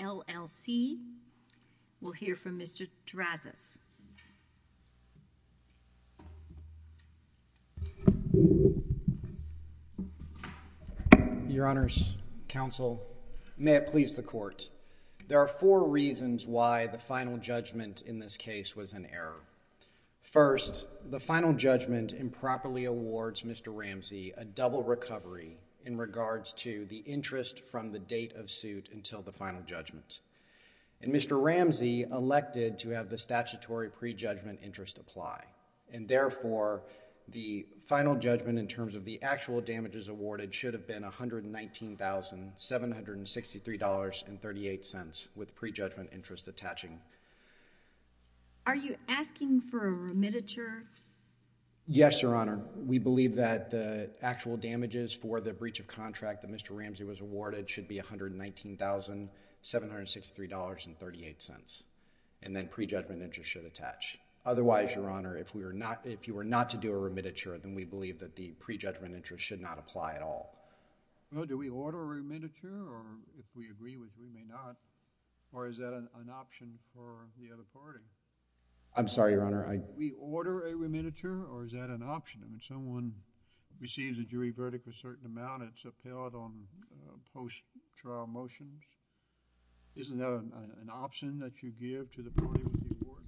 LLC. We'll hear from Mr. Terazis. Your Honors, Counsel, may it please the Court. There are four reasons why the final judgment in this case was an error. First, the final judgment improperly awards Mr. Ramsey a double recovery in regards to the interest from the date of suit until the final judgment. And Mr. Ramsey elected to have the statutory pre-judgment interest apply. And therefore, the final judgment in terms of the actual damages awarded should have been $119,763.38 with pre-judgment interest attaching. Are you asking for a remititure? Yes, Your Honor. We believe that the actual damages for the breach of contract that Mr. Ramsey was awarded should be $119,763.38. And then pre-judgment interest should attach. Otherwise, Your Honor, if you were not to do a remititure, then we believe that the pre-judgment interest should not apply at all. Well, do we order a remititure? Or if we agree with you, we may not. Or is that an option for the other party? I'm sorry, Your Honor. We order a remititure? Or is that an option? I mean, someone receives a jury verdict with a certain amount, it's upheld on post-trial motions. Isn't that an option that you give to the party with the award?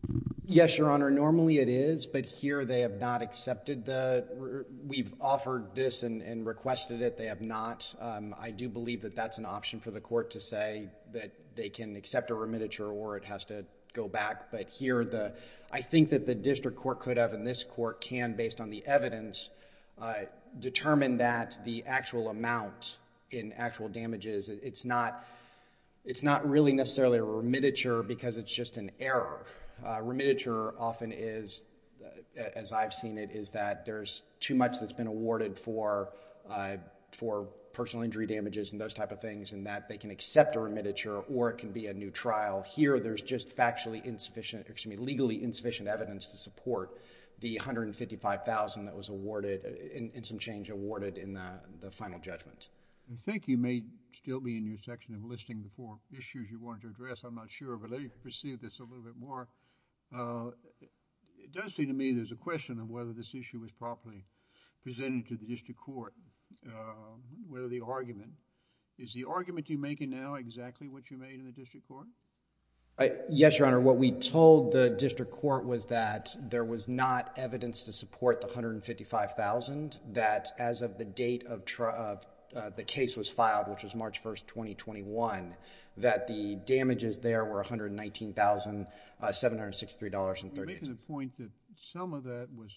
Yes, Your Honor. Normally, it is. But here, they have not accepted the... we've offered this and requested it. They have not. I do believe that that's an option for the court to say that they can accept a remititure or it has to go back. But here, I think that the district court could have and this court can, based on the evidence, determine that the actual amount in actual damages, it's not really necessarily a remititure because it's just an error. A remititure often is, as I've seen it, is that there's too much evidence that's been awarded for personal injury damages and those type of things and that they can accept a remititure or it can be a new trial. Here, there's just factually insufficient... excuse me, legally insufficient evidence to support the $155,000 that was awarded, in some change, awarded in the final judgment. I think you may still be in your section of listing the four issues you wanted to address. I'm not sure, but let me proceed this a little bit more. It does seem to me there's a question of whether this issue was properly presented to the district court, whether the argument, is the argument you're making now exactly what you made in the district court? Yes, Your Honor. What we told the district court was that there was not evidence to support the $155,000 that as of the date of the case was filed, which was March 1st, 2021, that the damages there were $119,763.38. And the point that some of that was,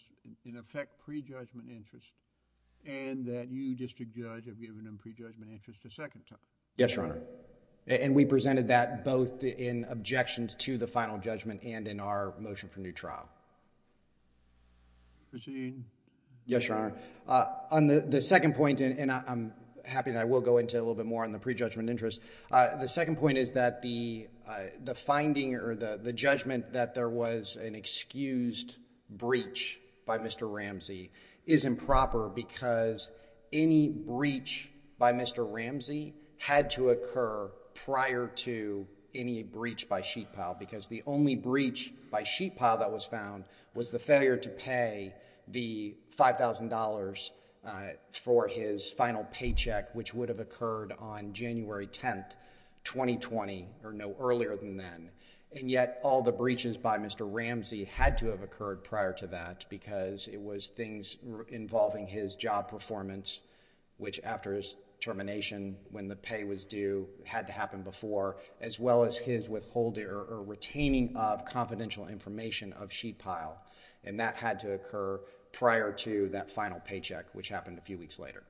in effect, pre-judgment interest and that you, District Judge, have given them pre-judgment interest a second time. Yes, Your Honor. And we presented that both in objections to the final judgment and in our motion for new trial. Proceeding. Yes, Your Honor. On the second point, and I'm happy and I will go into a little bit more on the pre-judgment interest, the second point is that the finding or the judgment that there was an excused breach by Mr. Ramsey is improper because any breach by Mr. Ramsey had to occur prior to any breach by Sheetpile because the only breach by Sheetpile that was found was the failure to pay the $5,000 for his final paycheck, which would have occurred on January 10th, 2020, or no earlier than then, and yet all the breaches by Mr. Ramsey had to have occurred prior to that because it was things involving his job performance, which after his termination, when the pay was due, had to happen before, as well as his withholding or retaining of confidential information of Sheetpile. And that had to occur prior to that final paycheck, which happened a few weeks later.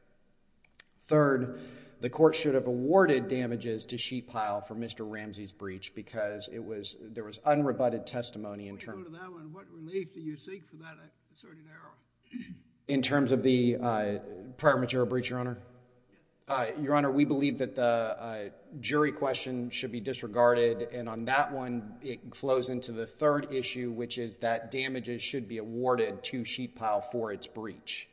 Third, the court should have awarded damages to Sheetpile for Mr. Ramsey's breach because it was, there was unrebutted testimony in terms of... Let me go to that one. What relief do you seek for that asserted error? In terms of the prior matural breach, Your Honor? Your Honor, we believe that the jury question should be disregarded, and on that one, it flows into the third issue, which is that damages should be awarded to Sheetpile for its breach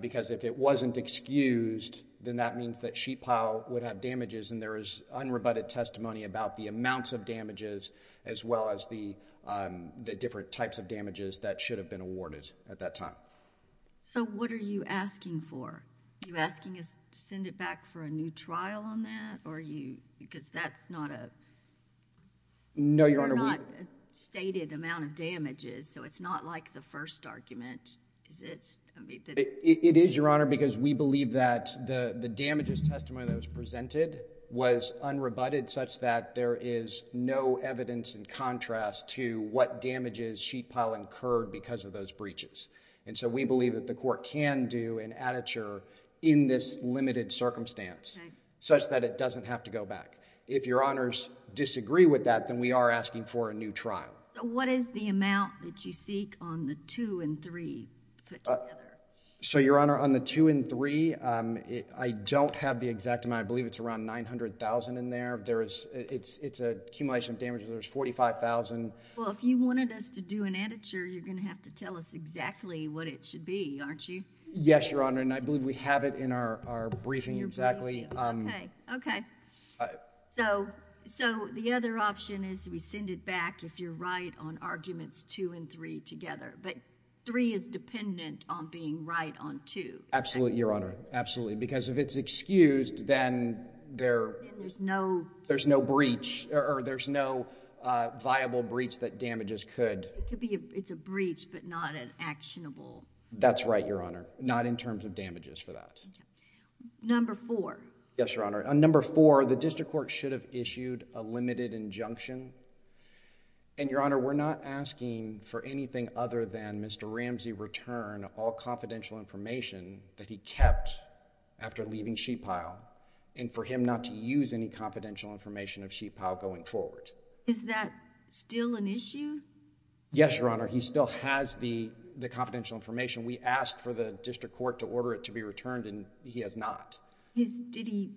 because if it wasn't excused, then that means that Sheetpile would have damages and there is unrebutted testimony about the amounts of damages, as well as the different types of damages that should have been awarded at that time. So what are you asking for? Are you asking us to send it back for a new trial on that? Or are you, because that's not a... No, Your Honor, we... It is, Your Honor, because we believe that the damages testimony that was presented was unrebutted such that there is no evidence in contrast to what damages Sheetpile incurred because of those breaches. And so we believe that the court can do an aditure in this limited circumstance such that it doesn't have to go back. If Your Honors disagree with that, then we are asking for a new trial. So what is the amount that you seek on the 2 and 3 put together? So Your Honor, on the 2 and 3, I don't have the exact amount. I believe it's around $900,000 in there. It's an accumulation of damages. There's $45,000... Well, if you wanted us to do an aditure, you're going to have to tell us exactly what it should be, aren't you? Yes, Your Honor, and I believe we have it in our briefing exactly. Okay. Okay. So the other option is we send it back, if you're right, on arguments 2 and 3 together. But 3 is dependent on being right on 2. Absolutely, Your Honor. Absolutely. Because if it's excused, then there's no breach or there's no viable breach that damages could... It's a breach, but not an actionable. That's right, Your Honor. Not in terms of damages for that. Number 4. Yes, Your Honor. On number 4, the district court should have issued a limited injunction. And, Your Honor, we're not asking for anything other than Mr. Ramsey return all confidential information that he kept after leaving Sheet Pile and for him not to use any confidential information of Sheet Pile going forward. Is that still an issue? Yes, Your Honor. He still has the confidential information. We asked for the district court to order it to be returned and he has not. Did he...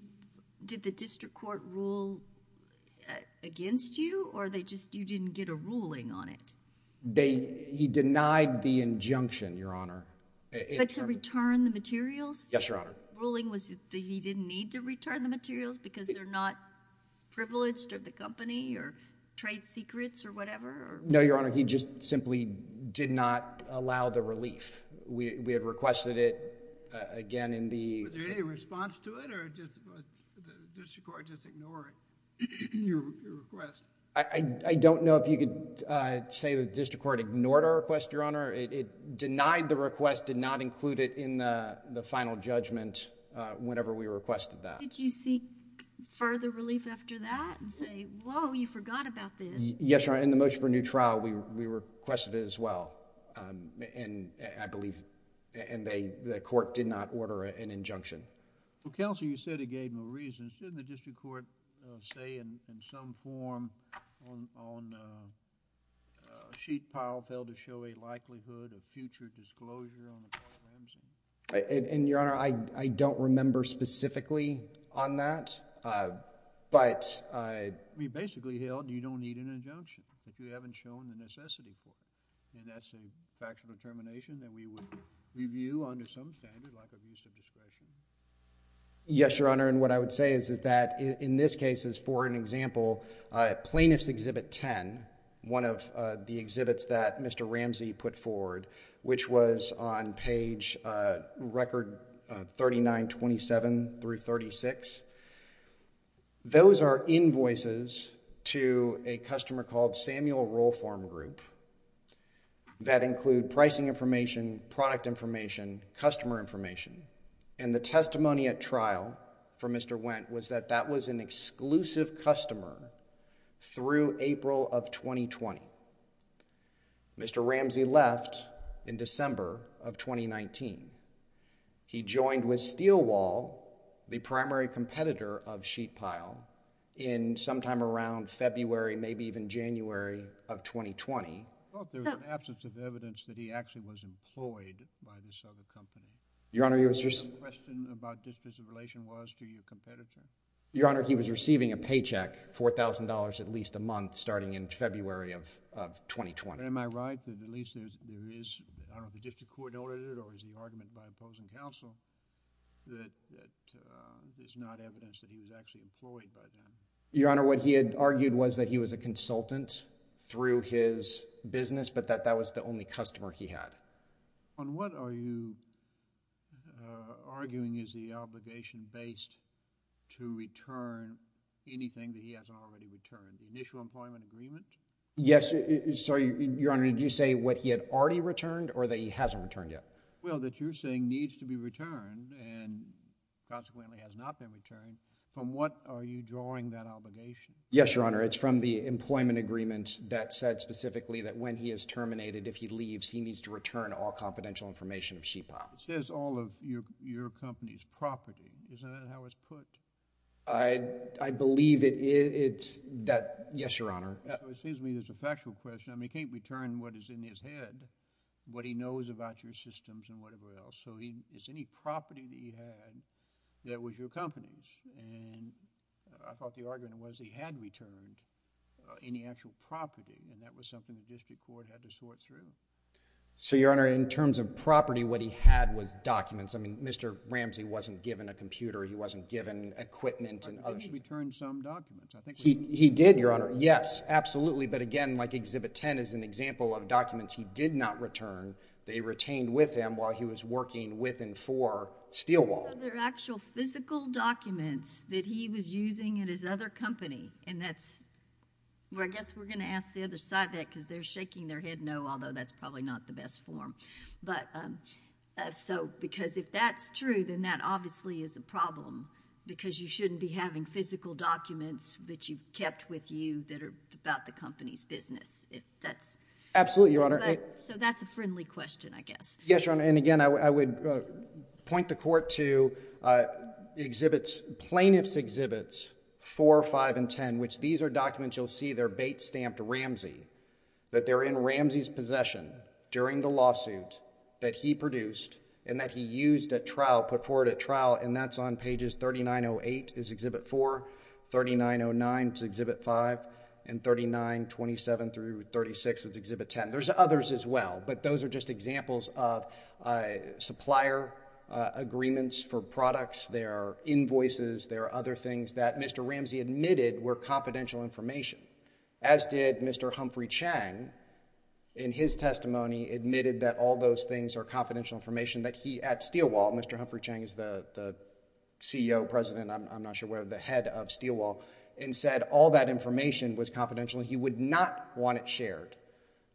did the district court rule against you or they just... you didn't get a ruling on it? They... he denied the injunction, Your Honor. But to return the materials? Yes, Your Honor. The ruling was that he didn't need to return the materials because they're not privileged or the company or trade secrets or whatever? No, Your Honor. He just simply did not allow the relief. We had requested it again in the... Was there any response to it or did the district court just ignore your request? I don't know if you could say the district court ignored our request, Your Honor. It denied the request, did not include it in the final judgment whenever we requested that. Did you seek further relief after that and say, whoa, you forgot about this? Yes, Your Honor. In the motion for new trial, we requested it as well and I believe... and they... the court did not order an injunction. Counsel, you said it gave no reason. Shouldn't the district court say in some form on sheet pile failed to show a likelihood of future disclosure on the... And, Your Honor, I don't remember specifically on that, but... I mean, basically, Hale, you don't need an injunction if you haven't shown the necessity for it. And that's a factual determination that we would review under some standard, like abuse of discretion. Yes, Your Honor, and what I would say is that in this case, as for an example, Plaintiff's Exhibit 10, one of the exhibits that Mr. Ramsey put forward, which was on page record 3927 through 36, those are invoices to a customer called Samuel Roll Form Group that include pricing information, product information, customer information. And the testimony at trial for Mr. Wendt was that that was an exclusive customer through April of 2020. Mr. Ramsey left in December of 2019. He joined with Steelwall, the primary competitor of sheet pile, in sometime around February, maybe even January of 2020. I thought there was an absence of evidence that he actually was employed by this other company. Your Honor, you were... And the question about disposition was to your competitor? Your Honor, he was receiving a paycheck, $4,000 at least a month, starting in February of 2020. Am I right that at least there is, I don't know if the district court noted it or is the argument by opposing counsel that there's not evidence that he was actually employed by them? Your Honor, what he had argued was that he was a consultant through his business, but that that was the only customer he had. On what are you arguing is the obligation based to return anything that he hasn't already returned? Initial employment agreement? Yes. Sorry, Your Honor. Did you say what he had already returned or that he hasn't returned yet? Well, that you're saying needs to be returned and consequently has not been returned. From what are you drawing that obligation? Yes, Your Honor. It's from the employment agreement that said specifically that when he is terminated, if he leaves, he needs to return all confidential information of sheet piles. It says all of your company's property. Isn't that how it's put? I believe it is. Yes, Your Honor. It seems to me there's a factual question. I mean, he can't return what is in his head, what he knows about your systems and whatever else. So it's any property that he had that was your company's and I thought the argument was he had returned any actual property and that was something the district court had to sort through. So, Your Honor, in terms of property, what he had was documents. I mean, Mr. Ramsey wasn't given a computer. He wasn't given equipment. He returned some documents. He did, Your Honor. Yes, absolutely. But again, like Exhibit 10 is an example of documents he did not return. They retained with him while he was working with and for Steelwall. Are there actual physical documents that he was using at his other company? And that's where I guess we're going to ask the other side that because they're shaking their head no, although that's probably not the best form. But so because if that's true, then that obviously is a problem because you shouldn't be having physical documents that you've kept with you that are about the company's business. If that's. Absolutely, Your Honor. So that's a friendly question, I guess. Yes, Your Honor. And again, I would point the court to exhibits, plaintiff's exhibits 4, 5 and 10, which these are documents you'll see they're bait stamped Ramsey, that they're in Ramsey's possession during the lawsuit that he produced and that he used at trial, put forward at trial, and that's on pages 3908 is Exhibit 4, 3909 is Exhibit 5, and 3927 through 36 was Exhibit 10. There's others as well, but those are just examples of supplier agreements for products. There are invoices. There are other things that Mr. Ramsey admitted were confidential information, as did Mr. Humphrey Chang in his testimony admitted that all those things are confidential information that he at Steelwall, Mr. Humphrey Chang is the CEO, president, I'm not sure where, the head of Steelwall and said all that information was confidential. He would not want it shared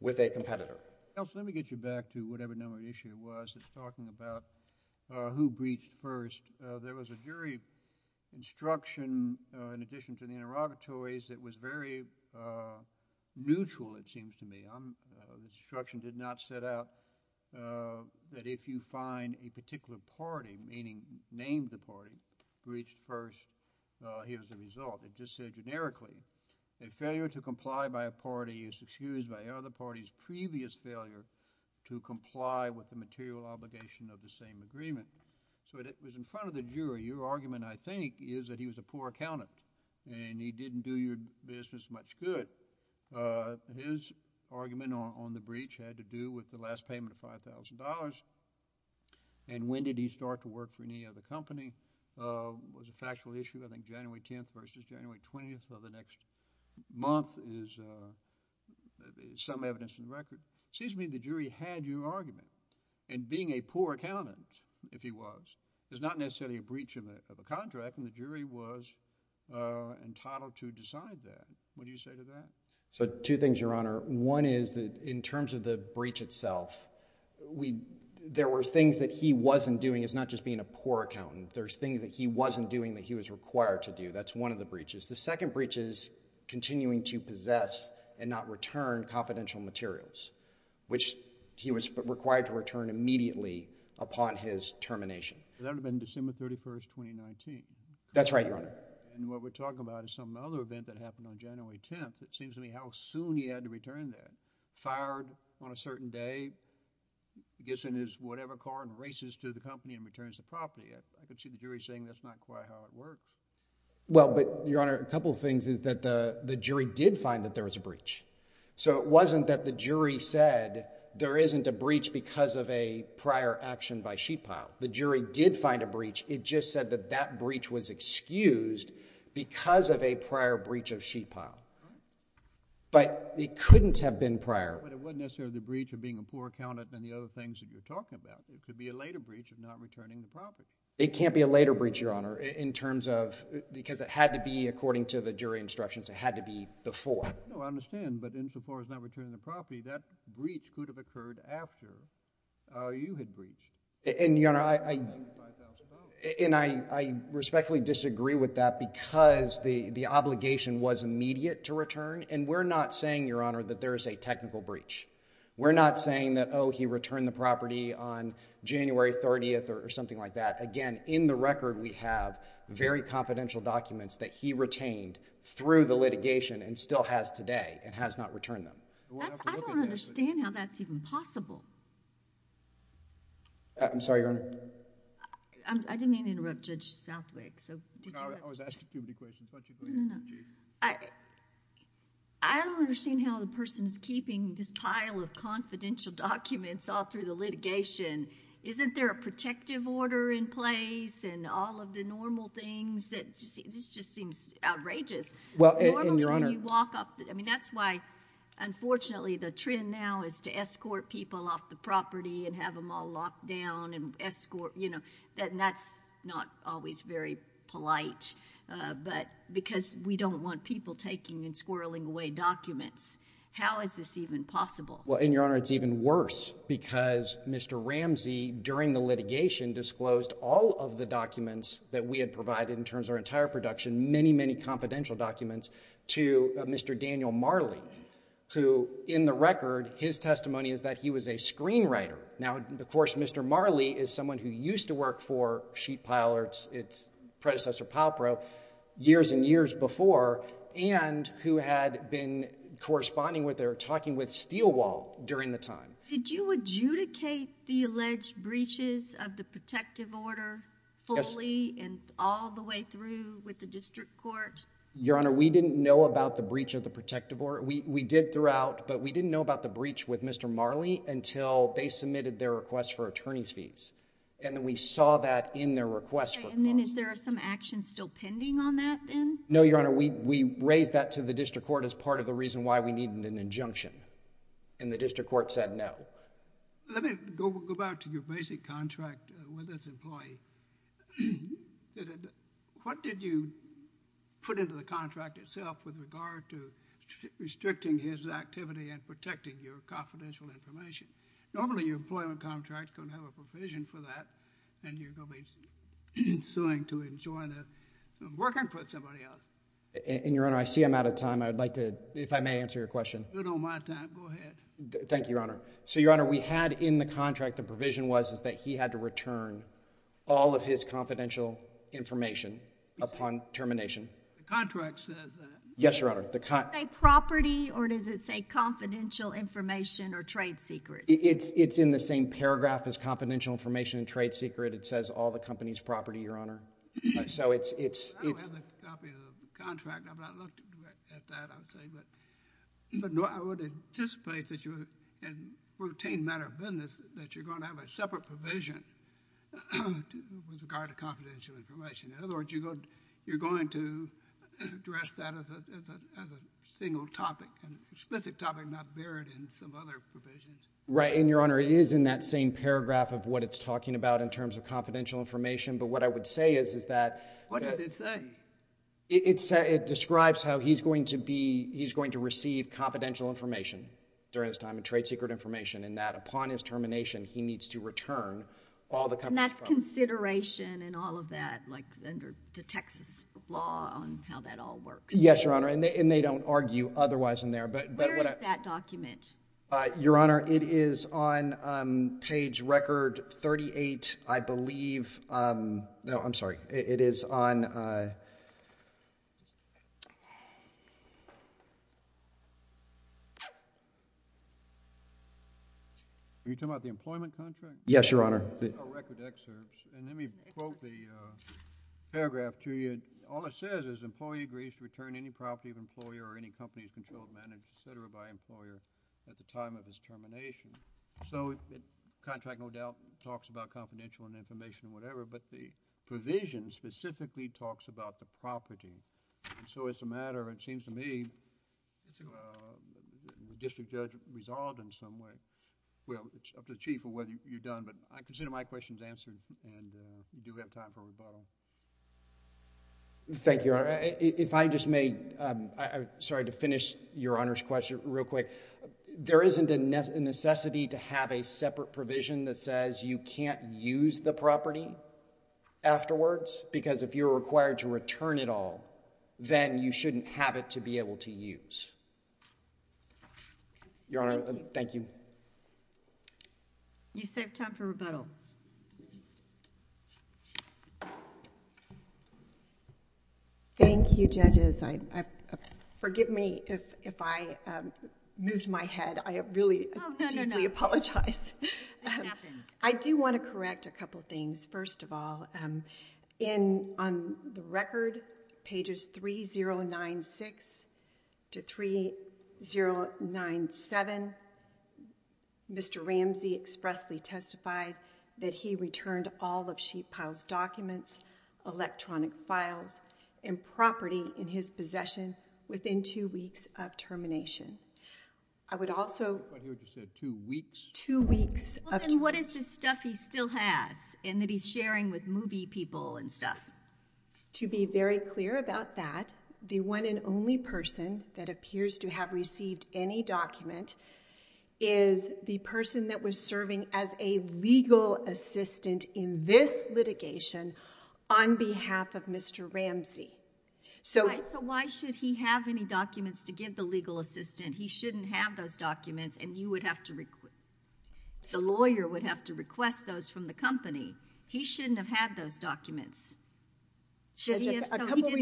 with a competitor. Counsel, let me get you back to whatever number issue it was. It's talking about who breached first. There was a jury instruction in addition to the interrogatories that was very neutral, it seems to me. The instruction did not set out that if you find a particular party, meaning name the party, breached first, here's the result. It just said generically, a failure to comply by a party is excused by the other party's previous failure to comply with the material obligation of the same agreement. So it was in front of the jury. Your argument, I think, is that he was a poor accountant and he didn't do your business much good. His argument on the breach had to do with the last payment of $5,000 and when did he start to work for any other company was a factual issue. I think January 10th versus January 20th of the next month is some evidence in record. It seems to me the jury had your argument and being a poor accountant, if he was, is not necessarily a breach of a contract and the jury was entitled to decide that. What do you say to that? So two things, your honor. One is that in terms of the breach itself, there were things that he wasn't doing. It's not just being a poor accountant. There's things that he wasn't doing that he was required to do. That's one of the breaches. The second breach is continuing to possess and not return confidential materials, which he was required to return immediately upon his termination. That would have been December 31st, 2019. That's right, your honor. And what we're talking about is some other event that happened on January 10th. It seems to me how soon he had to return that. Fired on a certain day, gets in his whatever car and races to the company and returns the property. I could see the jury saying that's not quite how it works. Well, but your honor, a couple of things is that the jury did find that there was a breach. So it wasn't that the jury said there isn't a breach because of a prior action by sheetpile. The jury did find a breach. It just said that that breach was excused because of a prior breach of sheetpile. But it couldn't have been prior. But it wasn't necessarily the breach of being a poor accountant and the other things that you're talking about. It could be a later breach of not returning the property. It can't be a later breach, your honor, in terms of because it had to be according to the jury instructions. It had to be before. No, I understand. But in so far as not returning the property, that breach could have occurred after you had breached. And your honor, I respectfully disagree with that because the obligation was immediate to return. And we're not saying, your honor, that there is a technical breach. We're not saying that, oh, he returned the property on January 30th or something like that. Again, in the record, we have very confidential documents that he retained through the litigation and still has today and has not returned them. I don't understand how that's even possible. I'm sorry, your honor. I didn't mean to interrupt Judge Southwick. I don't understand how the person is keeping this pile of confidential documents all through litigation. Isn't there a protective order in place and all of the normal things? This just seems outrageous. That's why, unfortunately, the trend now is to escort people off the property and have them all locked down. And that's not always very polite because we don't want people taking and squirreling away documents. How is this even possible? Well, and your honor, it's even worse because Mr. Ramsey, during the litigation, disclosed all of the documents that we had provided in terms of our entire production, many, many confidential documents to Mr. Daniel Marley, who, in the record, his testimony is that he was a screenwriter. Now, of course, Mr. Marley is someone who used to work for Sheet Pile or its predecessor, Palpro, years and years before and who had been corresponding with or talking with Steelwall during the time. Did you adjudicate the alleged breaches of the protective order fully and all the way through with the district court? Your honor, we didn't know about the breach of the protective order. We did throughout, but we didn't know about the breach with Mr. Marley until they submitted their request for attorney's fees. And then we saw that in their request. And then is there some action still pending on that then? No, your honor, we raised that to the district court as part of the reason why we needed an injunction, and the district court said no. Let me go back to your basic contract with this employee. What did you put into the contract itself with regard to restricting his activity and protecting your confidential information? Normally, your employment contract can have a provision for that, and you're suing to enjoin working for somebody else. And your honor, I see I'm out of time. I'd like to, if I may answer your question. You're good on my time. Go ahead. Thank you, your honor. So, your honor, we had in the contract, the provision was that he had to return all of his confidential information upon termination. The contract says that. Yes, your honor. Does it say property or does it say confidential information or trade secret? It's the same paragraph as confidential information and trade secret. It says all the company's property, your honor. I don't have a copy of the contract. I've not looked at that, I would say, but I would anticipate that in a routine matter of business that you're going to have a separate provision with regard to confidential information. In other words, you're going to address that as a single topic, an explicit topic, not buried in some other provisions. Right, and your honor, it is in that same paragraph of what it's talking about in terms of confidential information, but what I would say is, is that. What does it say? It describes how he's going to be, he's going to receive confidential information during this time, trade secret information, and that upon his termination, he needs to return all the company's property. And that's consideration and all of that, like under the Texas law on how that all works. Yes, your honor, and they don't argue otherwise in there, but. Where is that document? Your honor, it is on page record 38, I believe. No, I'm sorry. It is on. Are you talking about the employment contract? Yes, the employment contract. Yes, your honor, I'll quote the paragraph to you. All it says is employee agrees to return any property of employer or any companies controlled, managed, etc. by employer at the time of his termination. So the contract no doubt talks about confidential and information and whatever, but the provision specifically talks about the property. And so it's a matter, it seems to me, the district judge resolved in some way. Well, it's up to the chief of whether you're done, but I consider my questions answered and we do have time for rebuttal. Thank you, your honor. If I just may, I'm sorry to finish your honor's question real quick. There isn't a necessity to have a separate provision that says you can't use the property afterwards because if you're required to return it all, then you shouldn't have it to be able to use. Your honor, thank you. You saved time for rebuttal. Thank you, judges. Forgive me if I moved my head. I really deeply apologize. I do want to correct a couple of things. First of all, on the record, pages 3096 to 3097, Mr. Ramsey expressly testified that he returned all of Sheetpile's documents, electronic files, and property in his possession within two weeks of termination. I would also- I thought you said two weeks? Two weeks. Well, then what is this stuff he still has and that he's sharing with MUBI people and stuff? To be very clear about that, the one and only person that appears to have received any document is the person that was serving as a legal assistant in this litigation on behalf of Mr. Ramsey. So why should he have any documents to give the legal assistant? He shouldn't have those documents and you would have to- the lawyer would have to request those from the company. He shouldn't have had those documents. Judge, a couple of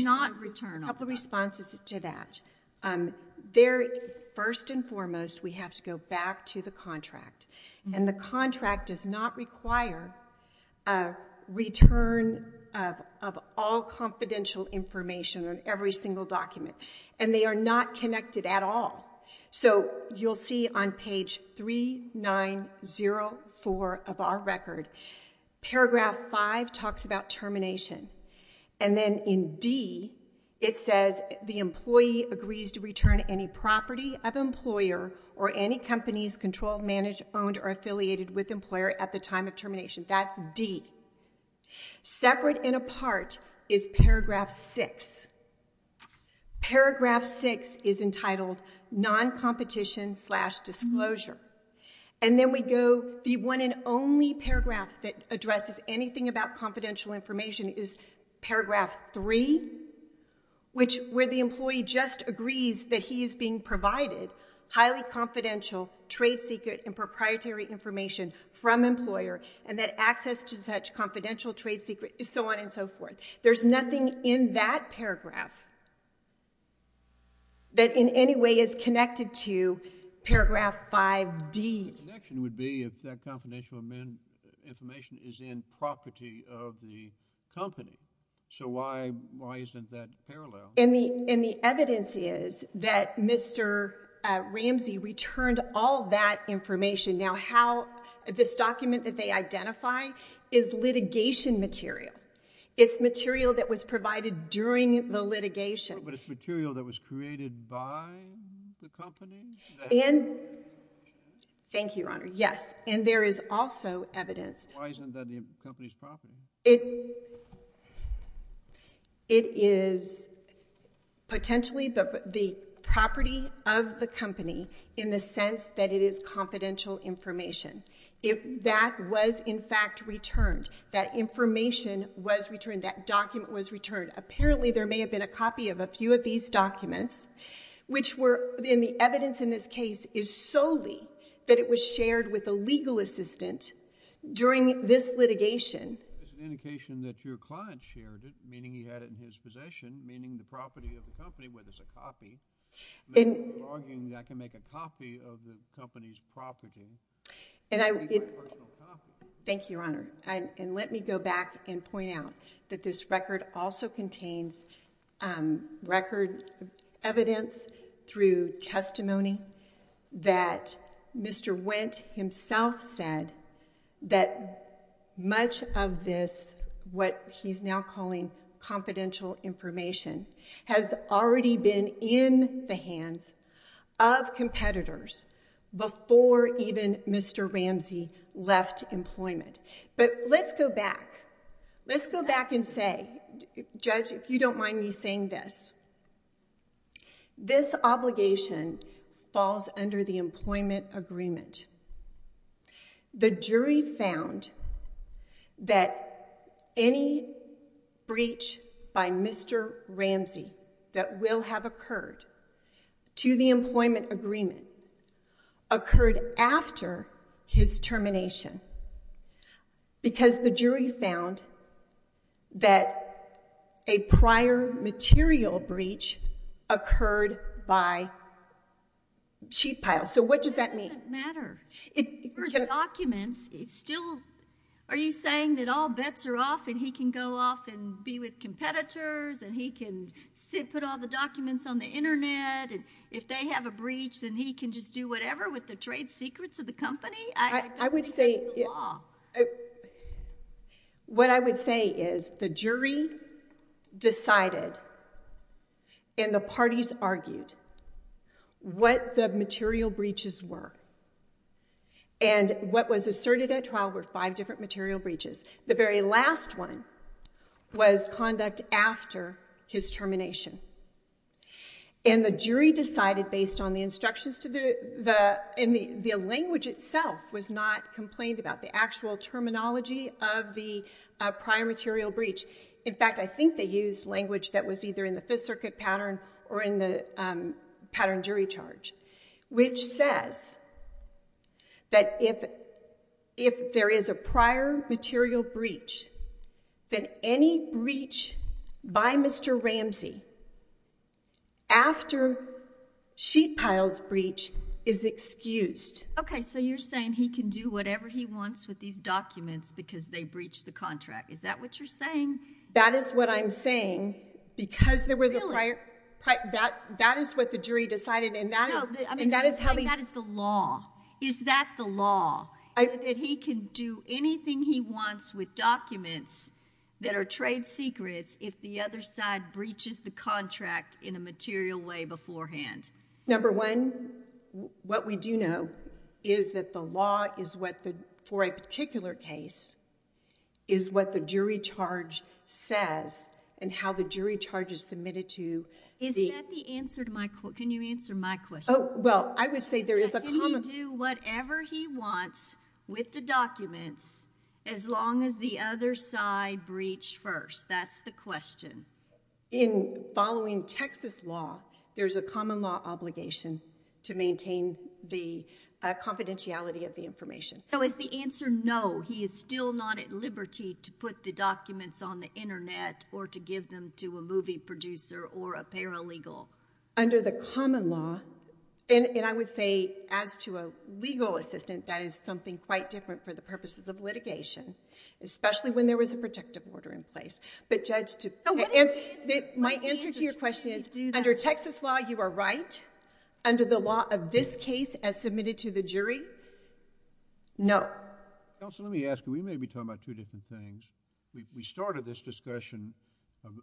responses to that. First and foremost, we have to go back to the contract. And the contract does not require a return of all confidential information on every single document. And they are not connected at all. So you'll see on page 3904 of our record paragraph 5 talks about termination. And then in D, it says the employee agrees to return any property of employer or any companies controlled, managed, owned, or affiliated with employer at the time of termination. That's D. Separate and apart is paragraph 6. Paragraph 6 is entitled non-competition-slash-disclosure. And then we go- the one and only paragraph that addresses anything about confidential information is paragraph 3, which- where the employee just agrees that he is being provided highly confidential trade secret and proprietary information from employer and that access to such confidential trade secret- so on and so forth. There's nothing in that paragraph that in any way is connected to paragraph 5D. The connection would be if that confidential information is in property of the company. So why isn't that parallel? And the evidence is that Mr. Ramsey returned all that information. Now how- this document that they identify is litigation material. It's material that was provided during the litigation. But it's material that was created by the company? And- thank you, Your Honor. Yes. And there is also evidence- Why isn't that the company's property? It- it is potentially the property of the company in the sense that it is confidential information. It- that was, in fact, returned. That information was returned. That document was returned. Apparently there may have been a copy of a few of these documents, which were- and the evidence in this case is solely that it was shared with a legal assistant during this litigation. It's an indication that your client shared it, meaning he had it in his possession, meaning the property of the company was a copy. And- You're arguing that I can make a copy of the company's property. And I- It would be my personal copy. Thank you, Your Honor. And let me go back and point out that this record also contains record evidence through testimony that Mr. Wendt himself said that much of this, what he's now calling confidential information, has already been in the hands of competitors before even Mr. Ramsey left employment. But let's go back. Let's go back and say- Judge, if you don't mind me saying this. This obligation falls under the employment agreement. The jury found that any breach by Mr. Ramsey that will have occurred to the employment agreement occurred after his termination, because the jury found that a prior material breach occurred by cheat pile. So what does that mean? It doesn't matter. For the documents, it's still- Are you saying that all bets are off and he can go off and be with competitors and he can put all the documents on the internet and if they have a breach, then he can just do whatever with the trade secrets of the company? I don't think that's the law. I would say- What I would say is the jury decided and the parties argued what the material breaches were. And what was asserted at trial were five different material breaches. The very last one was conduct after his termination. And the jury decided based on the instructions to the- And the language itself was not complained about. The actual terminology of the prior material breach. In fact, I think they used language that was either in the Fifth Circuit pattern or in the pattern jury charge, which says that if there is a prior material breach, that any breach by Mr. Ramsey after cheat pile's breach is excused. Okay. So you're saying he can do whatever he wants with these documents because they the contract. Is that what you're saying? That is what I'm saying because there was a prior- That is what the jury decided and that is how he- That is the law. Is that the law? That he can do anything he wants with documents that are trade secrets if the other side breaches the contract in a material way beforehand? Number one, what we do know is that the law is what the, for a particular case, is what the jury charge says and how the jury charge is submitted to the- Is that the answer to my, can you answer my question? Oh, well, I would say there is a common- Can he do whatever he wants with the documents as long as the other side breached first? That's the question. In following Texas law, there's a common law obligation to maintain the confidentiality of the information. So is the answer no, he is still not at liberty to put the documents on the internet or to give them to a movie producer or a paralegal? Under the common law, and I would say as to a legal assistant, that is something quite different for the purposes of litigation, especially when there was a protective order in place. But judge to- My answer to your question is, under Texas law, you are right. Under the law of this case as submitted to the jury, no. Counsel, let me ask you, we may be talking about two different things. We started this discussion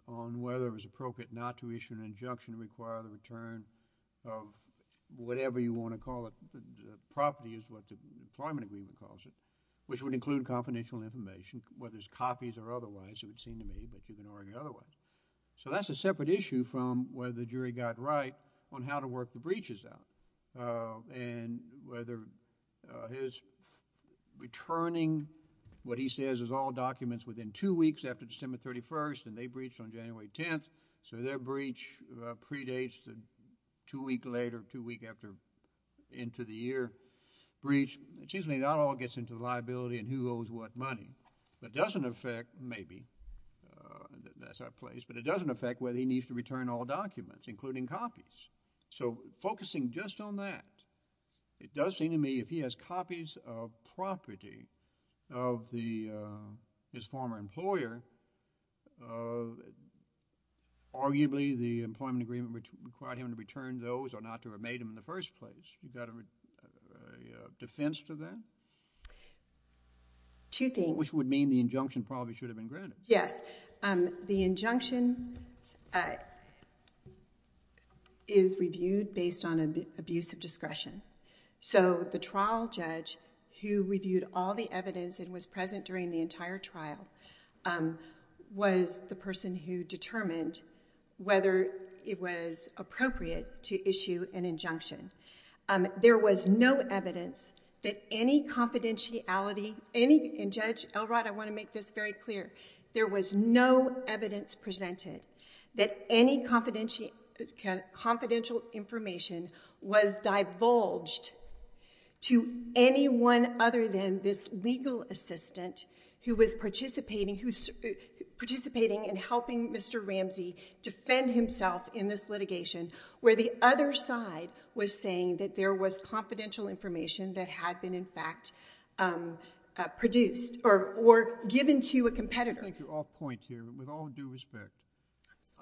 on whether it was appropriate not to issue an injunction to require the return of whatever you want to call it, property is what the employment agreement calls it, which would include confidential information, whether it's otherwise, it would seem to me, but you can argue otherwise. So that's a separate issue from whether the jury got right on how to work the breaches out and whether his returning what he says is all documents within two weeks after December 31st and they breached on January 10th, so their breach predates the two week later, two week after, into the year breach. It seems to me that all gets into liability and who owes what money. That doesn't affect, maybe, that's out of place, but it doesn't affect whether he needs to return all documents, including copies. So focusing just on that, it does seem to me if he has copies of property of his former employer, arguably the employment agreement required him to return those or not to have made them in the first place. You got a defense to that? Two things. Which would mean the injunction probably should have been granted. Yes, the injunction is reviewed based on abuse of discretion. So the trial judge who reviewed all the evidence and was present during the entire trial was the person who determined whether it was appropriate to issue an injunction. There was no evidence that any confidentiality, and Judge Elrod, I want to make this very clear, there was no evidence presented that any confidential information was divulged to anyone other than this legal assistant who was participating in helping Mr. Ramsey defend himself in this litigation, where the other side was saying that there was confidential information that had been, in fact, produced or given to a competitor. I think you're off point here, but with all due respect,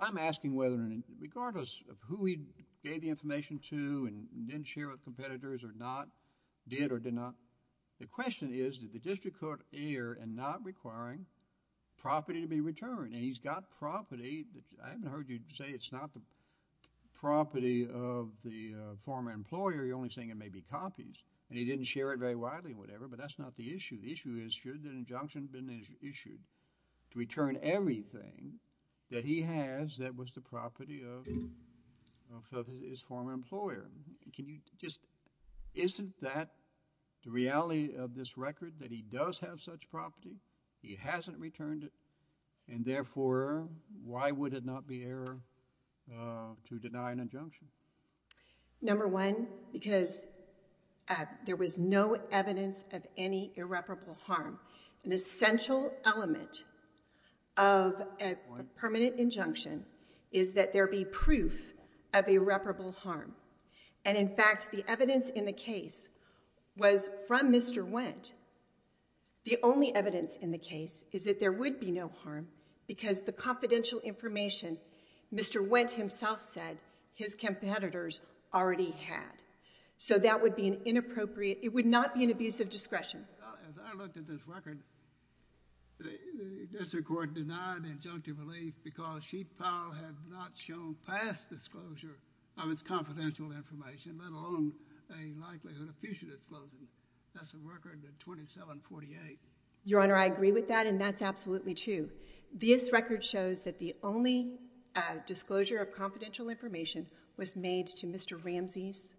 I'm asking whether and regardless of who he gave the information to and didn't share with competitors or not, did or did not, the question is, did the district court err in not requiring property to be returned? And he's got property that I haven't heard you say it's not the property of the former employer. You're only saying it may be copies, and he didn't share it very widely or whatever, but that's not the issue. The issue is, should the injunction have been issued to return everything that he has that was the property of his former employer? Can you just, isn't that the reality of this record, that he does have such property? He hasn't returned it, and therefore, why would it not be error to deny an injunction? Number one, because there was no evidence of any irreparable harm. An essential element of a permanent injunction is that there be proof of irreparable harm. And in fact, the evidence in the case was from Mr. Wendt. The only evidence in the case is that there would be no harm because the confidential information, Mr. Wendt himself said, his competitors already had. So that would be an inappropriate, it would not be an abuse of discretion. As I looked at this record, the district court denied injunctive relief because Chief Powell had not shown past disclosure of its confidential information, let alone a likelihood of future disclosure. That's a record of 2748. Your Honor, I agree with that, and that's absolutely true. This record shows that the only disclosure of confidential information was made to Mr. Ramsey's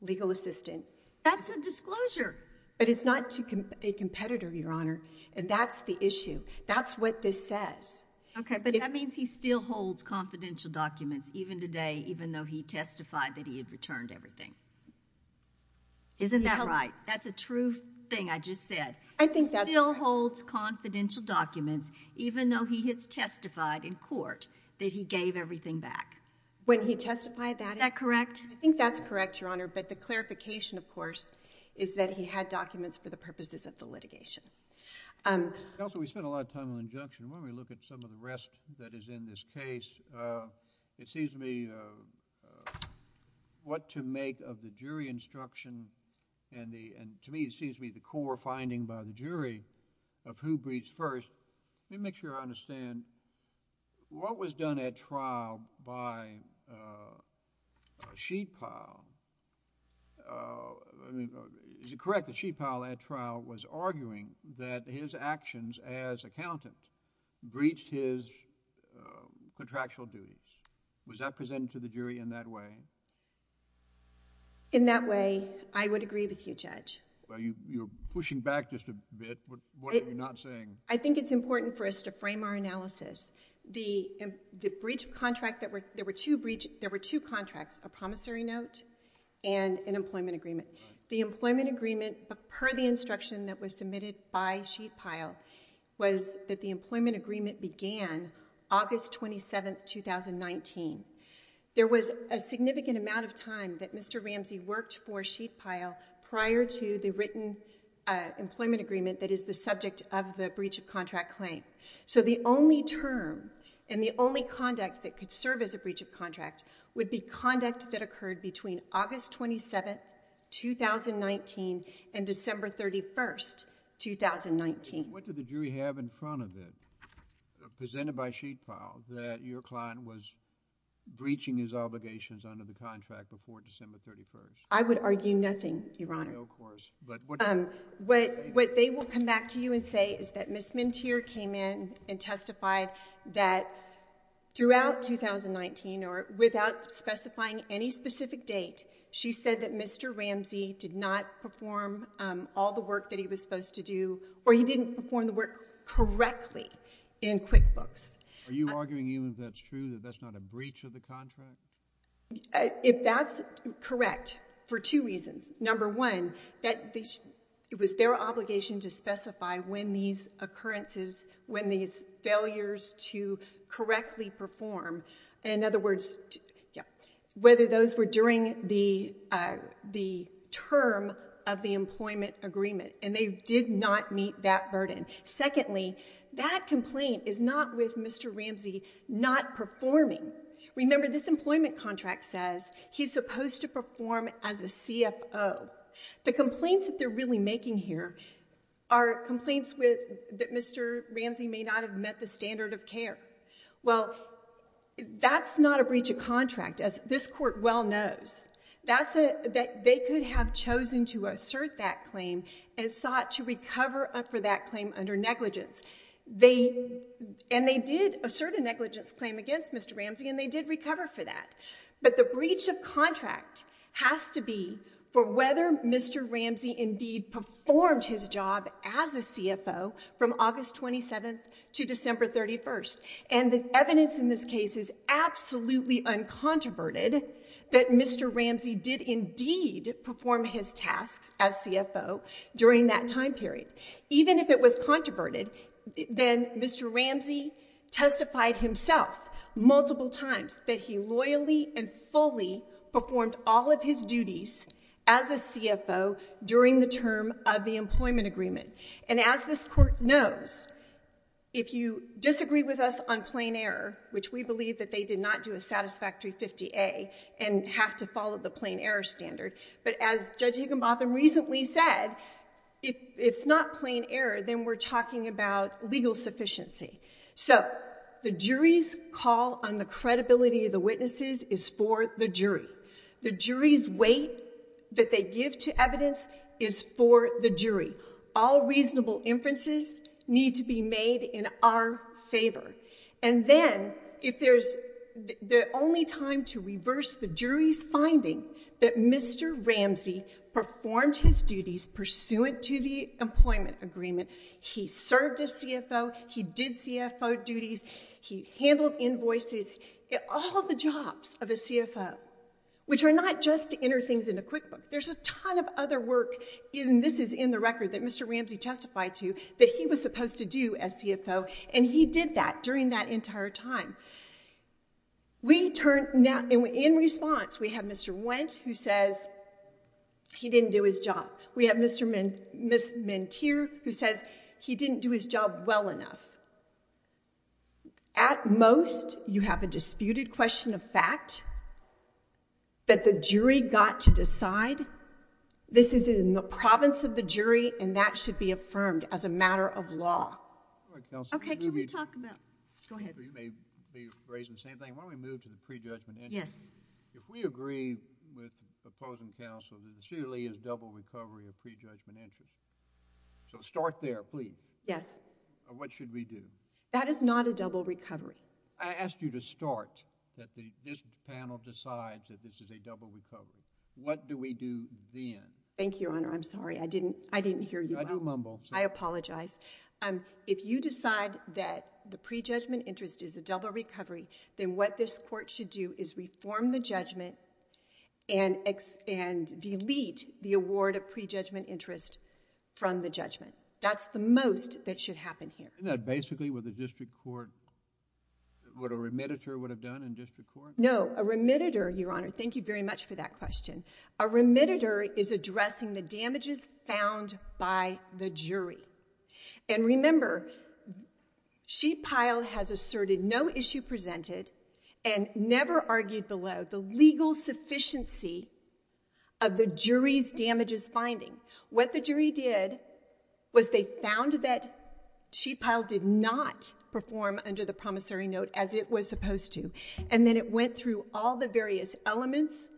legal assistant. That's a disclosure. But it's not to a competitor, Your Honor, and that's the issue. That's what this says. OK, but that means he still holds confidential documents even today, even though he testified that he had returned everything. Isn't that right? That's a true thing I just said. I think that still holds confidential documents, even though he has testified in court that he gave everything back. When he testified that, is that correct? I think that's correct, Your Honor. But the clarification, of course, is that he had documents for the purposes of the litigation. Counsel, we spent a lot of time on injunction. Why don't we look at some of the rest that is in this case? It seems to me what to make of the jury instruction, and to me, it seems to be the core finding by the jury of who breathes first. Let me make sure I understand. What was done at trial by Sheetal, is it correct that Sheetal at trial was arguing that his actions as accountant breached his contractual duties? Was that presented to the jury in that way? In that way, I would agree with you, Judge. Well, you're pushing back just a bit. What are you not saying? I think it's important for us to frame our analysis. There were two contracts, a promissory note and an employment agreement. The employment agreement, per the instruction that was submitted by Sheetal, was that the employment agreement began August 27, 2019. There was a significant amount of time that Mr. Ramsey worked for Sheetal prior to the written employment agreement that is the subject of the breach of contract claim. The only term and the only conduct that could serve as a breach of contract would be conduct that occurred between August 27, 2019 and December 31, 2019. What did the jury have in front of it, presented by Sheetal, that your client was breaching his obligations under the contract before December 31? I would argue nothing, Your Honor. What they will come back to you and say is that Ms. Mentier came in and testified that throughout 2019, or without specifying any specific date, she said that Mr. Ramsey did not perform all the work that he was supposed to do, or he didn't perform the work correctly in QuickBooks. Are you arguing even if that's true, that that's not a breach of the contract? If that's correct, for two reasons. Number one, it was their obligation to specify when these occurrences, when these failures to correctly perform, in other words, whether those were during the term of the employment agreement, and they did not meet that burden. Secondly, that complaint is not with Mr. Ramsey not performing. Remember, this employment contract says he's supposed to perform as a CFO. The complaints that they're really making here are complaints that Mr. Ramsey may not have met the standard of care. Well, that's not a breach of contract, as this court well knows. They could have chosen to assert that claim and sought to recover for that claim under negligence. They, and they did assert a negligence claim against Mr. Ramsey, and they did recover for that. But the breach of contract has to be for whether Mr. Ramsey indeed performed his job as a CFO from August 27th to December 31st. And the evidence in this case is absolutely uncontroverted that Mr. Ramsey did indeed perform his tasks as CFO during that time period. Even if it was controverted, then Mr. Ramsey testified himself multiple times that he loyally and fully performed all of his duties as a CFO during the term of the employment agreement. And as this court knows, if you disagree with us on plain error, which we believe that they did not do a satisfactory 50A and have to follow the plain error standard, but as Judge Higginbotham recently said, if it's not plain error, then we're talking about legal sufficiency. So the jury's call on the credibility of the witnesses is for the jury. The jury's weight that they give to evidence is for the jury. All reasonable inferences need to be made in our favor. And then if there's the only time to reverse the jury's finding that Mr. Ramsey performed his duties pursuant to the employment agreement, he served as CFO, he did CFO duties, he handled invoices, all the jobs of a CFO, which are not just to enter things in a QuickBook. There's a ton of other work, and this is in the record that Mr. Ramsey testified to, that he was supposed to do as CFO. And he did that during that entire time. In response, we have Mr. Wendt, who says he didn't do his job. We have Mr. Mentier, who says he didn't do his job well enough. At most, you have a disputed question of fact that the jury got to decide. This is in the province of the jury, and that should be affirmed as a matter of law. Okay, can we talk about, go ahead. You may be raising the same thing. Why don't we move to the pre-judgment interest? Yes. If we agree with opposing counsel that this really is double recovery of pre-judgment interest, so start there, please. Yes. What should we do? That is not a double recovery. I asked you to start that this panel decides that this is a double recovery. What do we do then? Thank you, Your Honor. I'm sorry, I didn't hear you. I do mumble. I apologize. If you decide that the pre-judgment interest is a double recovery, then what this court should do is reform the judgment and delete the award of pre-judgment interest from the judgment. That's the most that should happen here. Isn't that basically what a remediator would have done in district court? No, a remediator, Your Honor. Thank you very much for that question. A remediator is addressing the damages found by the jury. And remember, Sheet Pile has asserted no issue presented and never argued below the legal sufficiency of the jury's damages finding. What the jury did was they found that Sheet Pile did not perform under the promissory note as it was supposed to. And then it went through all the various elements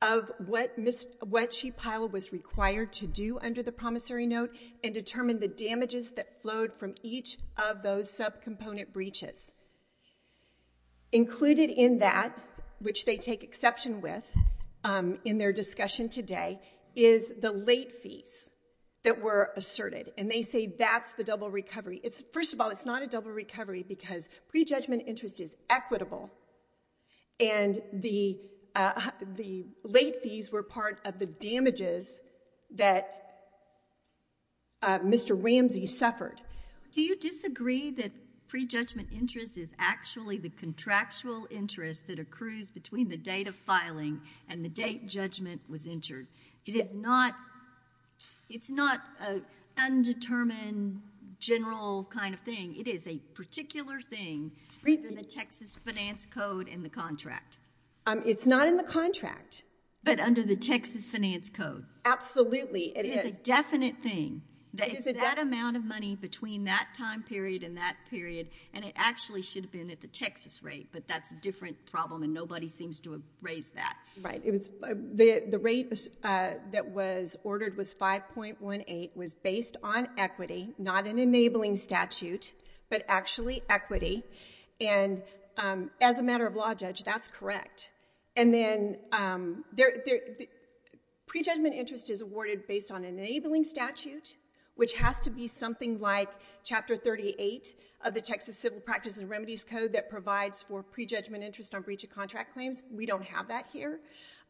of what Sheet Pile was required to do under the promissory note and determine the damages that flowed from each of those subcomponent breaches. Included in that, which they take exception with in their discussion today, is the late fees that were asserted. And they say that's the double recovery. First of all, it's not a double recovery because pre-judgment interest is equitable. And the late fees were part of the damages that Mr. Ramsey suffered. Do you disagree that pre-judgment interest is actually the contractual interest that accrues between the date of filing and the date judgment was entered? It is not an undetermined, general kind of thing. It is a particular thing under the Texas finance code and the contract. It's not in the contract. But under the Texas finance code. Absolutely. It is a definite thing. It's that amount of money between that time period and that period. And it actually should have been at the Texas rate. But that's a different problem. And nobody seems to have raised that. Right. The rate that was ordered was 5.18. Was based on equity. Not an enabling statute. But actually equity. And as a matter of law, Judge, that's correct. And then pre-judgment interest is awarded based on an enabling statute, which has to be something like chapter 38 of the Texas Civil Practices and Remedies Code that provides for pre-judgment interest on breach of contract claims. We don't have that here.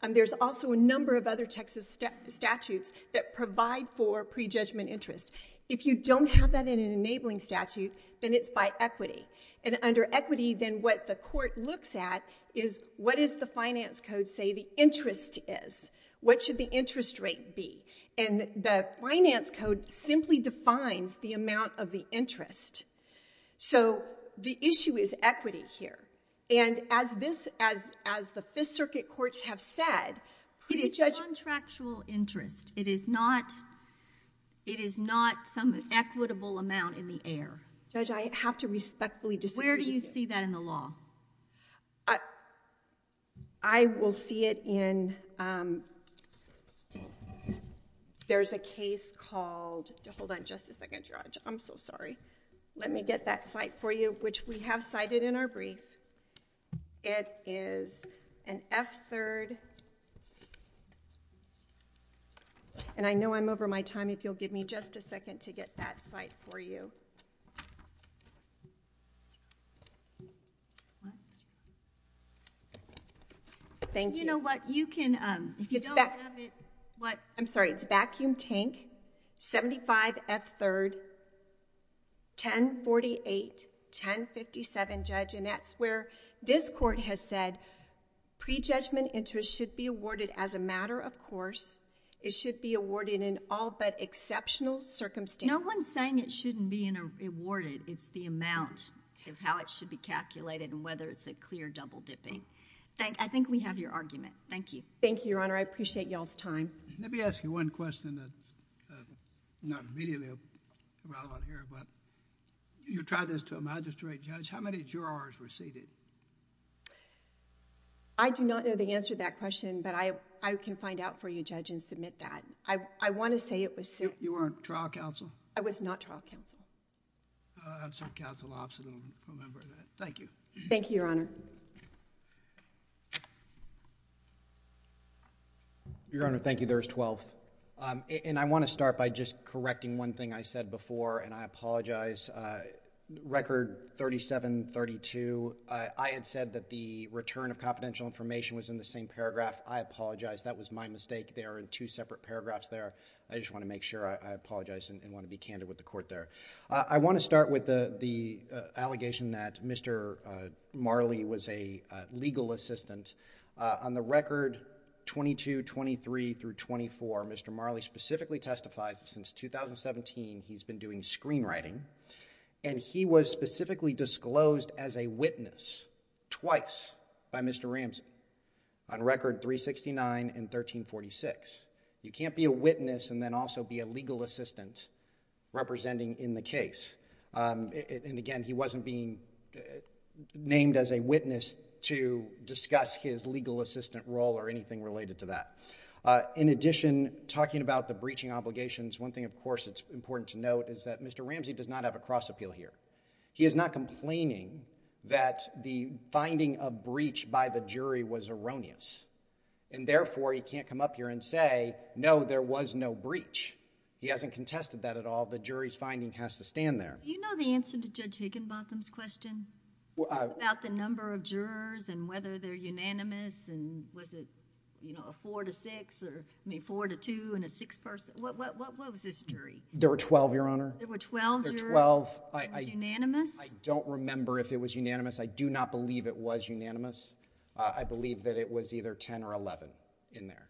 There's also a number of other Texas statutes that provide for pre-judgment interest. If you don't have that in an enabling statute, then it's by equity. And under equity, then what the court looks at is what is the finance code say the interest is? What should the interest rate be? And the finance code simply defines the amount of the interest. So the issue is equity here. And as this, as the Fifth Circuit courts have said, pre-judgment interest. It is contractual interest. It is not some equitable amount in the air. Judge, I have to respectfully disagree with you. Where do you see that in the law? I will see it in, there's a case called, hold on just a second, Judge. I'm so sorry. Let me get that cite for you, which we have cited in our brief. It is an F-3rd. And I know I'm over my time. If you'll give me just a second to get that cite for you. Thank you. You know what? You can, if you don't have it, what? I'm sorry. It's Vacuum Tank, 75 F-3rd, 1048, 1057, Judge. And that's where this court has said, pre-judgment interest should be awarded as a matter of course. It should be awarded in all but exceptional circumstances. No one's saying it shouldn't be awarded. It's the amount of how it should be calculated and whether it's a clear double dipping. I think we have your argument. Thank you. Thank you, Your Honor. I appreciate y'all's time. Let me ask you one question that's not immediately a problem here. But you tried this to a magistrate, Judge. How many jurors were seated? I do not know the answer to that question. But I can find out for you, Judge, and submit that. I want to say it was six. You were on trial counsel? I was not trial counsel. I'm a trial counsel officer. I don't remember that. Thank you. Thank you, Your Honor. Your Honor, thank you. There was 12. And I want to start by just correcting one thing I said before. And I apologize. Record 3732, I had said that the return of confidential information was in the same paragraph. I apologize. That was my mistake. There are two separate paragraphs there. I just want to make sure I apologize and want to be candid with the court there. I want to start with the allegation that Mr. Marley was a legal assistant. On the record 2223 through 24, Mr. Marley specifically testifies that since 2017, he's been doing screenwriting. And he was specifically disclosed as a witness twice by Mr. Ramsey on record 369 and 1346. You can't be a witness and then also be a legal assistant representing in the case. And again, he wasn't being named as a witness to discuss his legal assistant role or anything related to that. In addition, talking about the breaching obligations, one thing of course it's important to note is that Mr. Ramsey does not have a cross appeal here. He is not complaining that the finding of breach by the jury was erroneous. And therefore, he can't come up here and say, no, there was no breach. He hasn't contested that at all. The jury's finding has to stand there. Do you know the answer to Judge Higginbotham's question about the number of jurors and whether they're unanimous? And was it, you know, a four to six or, I mean, four to two and a six person? What was his jury? There were 12, Your Honor. There were 12 jurors? There were 12. It was unanimous? I don't remember if it was unanimous. I do not believe it was unanimous. I believe that it was either 10 or 11 in there.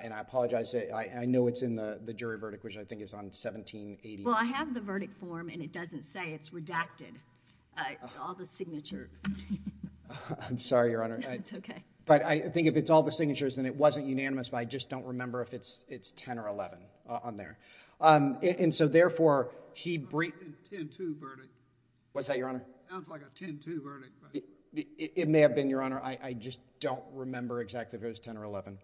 And I apologize. I know it's in the jury verdict, which I think is on 1780. Well, I have the verdict form and it doesn't say it's redacted. All the signature. I'm sorry, Your Honor. No, it's OK. But I think if it's all the signatures, then it wasn't unanimous. But I just don't remember if it's 10 or 11 on there. And so, therefore, he breached... It sounds like a 10-2 verdict. What's that, Your Honor? Sounds like a 10-2 verdict. It may have been, Your Honor. I just don't remember exactly if it was 10 or 11.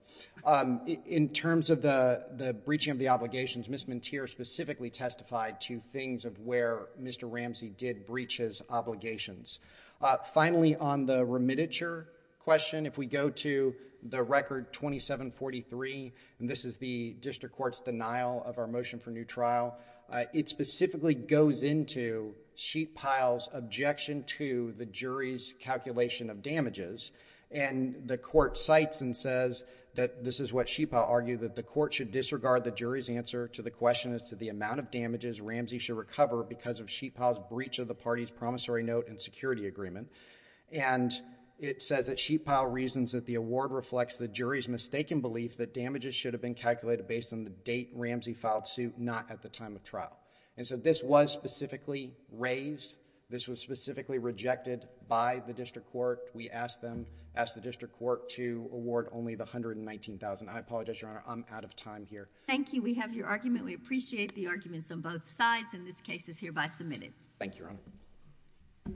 In terms of the breaching of the obligations, Ms. Mentir specifically testified to things of where Mr. Ramsey did breach his obligations. Finally, on the remititure question, if we go to the record 2743, and this is the district court's denial of our motion for new trial, it specifically goes into Sheetpile's objection to the jury's calculation of damages. And the court cites and says that this is what Sheetpile argued, that the court should disregard the jury's answer to the question as to the amount of damages Ramsey should recover because of Sheetpile's breach of the party's promissory note and security agreement. And it says that Sheetpile reasons that the award reflects the jury's mistaken belief that damages should have been calculated based on the date Ramsey filed suit, not at the time of trial. And so this was specifically raised. This was specifically rejected by the district court. We asked them, asked the district court to award only the $119,000. I apologize, Your Honor. I'm out of time here. Thank you. We have your argument. We appreciate the arguments on both sides, and this case is hereby submitted. Thank you, Your Honor. Thank you.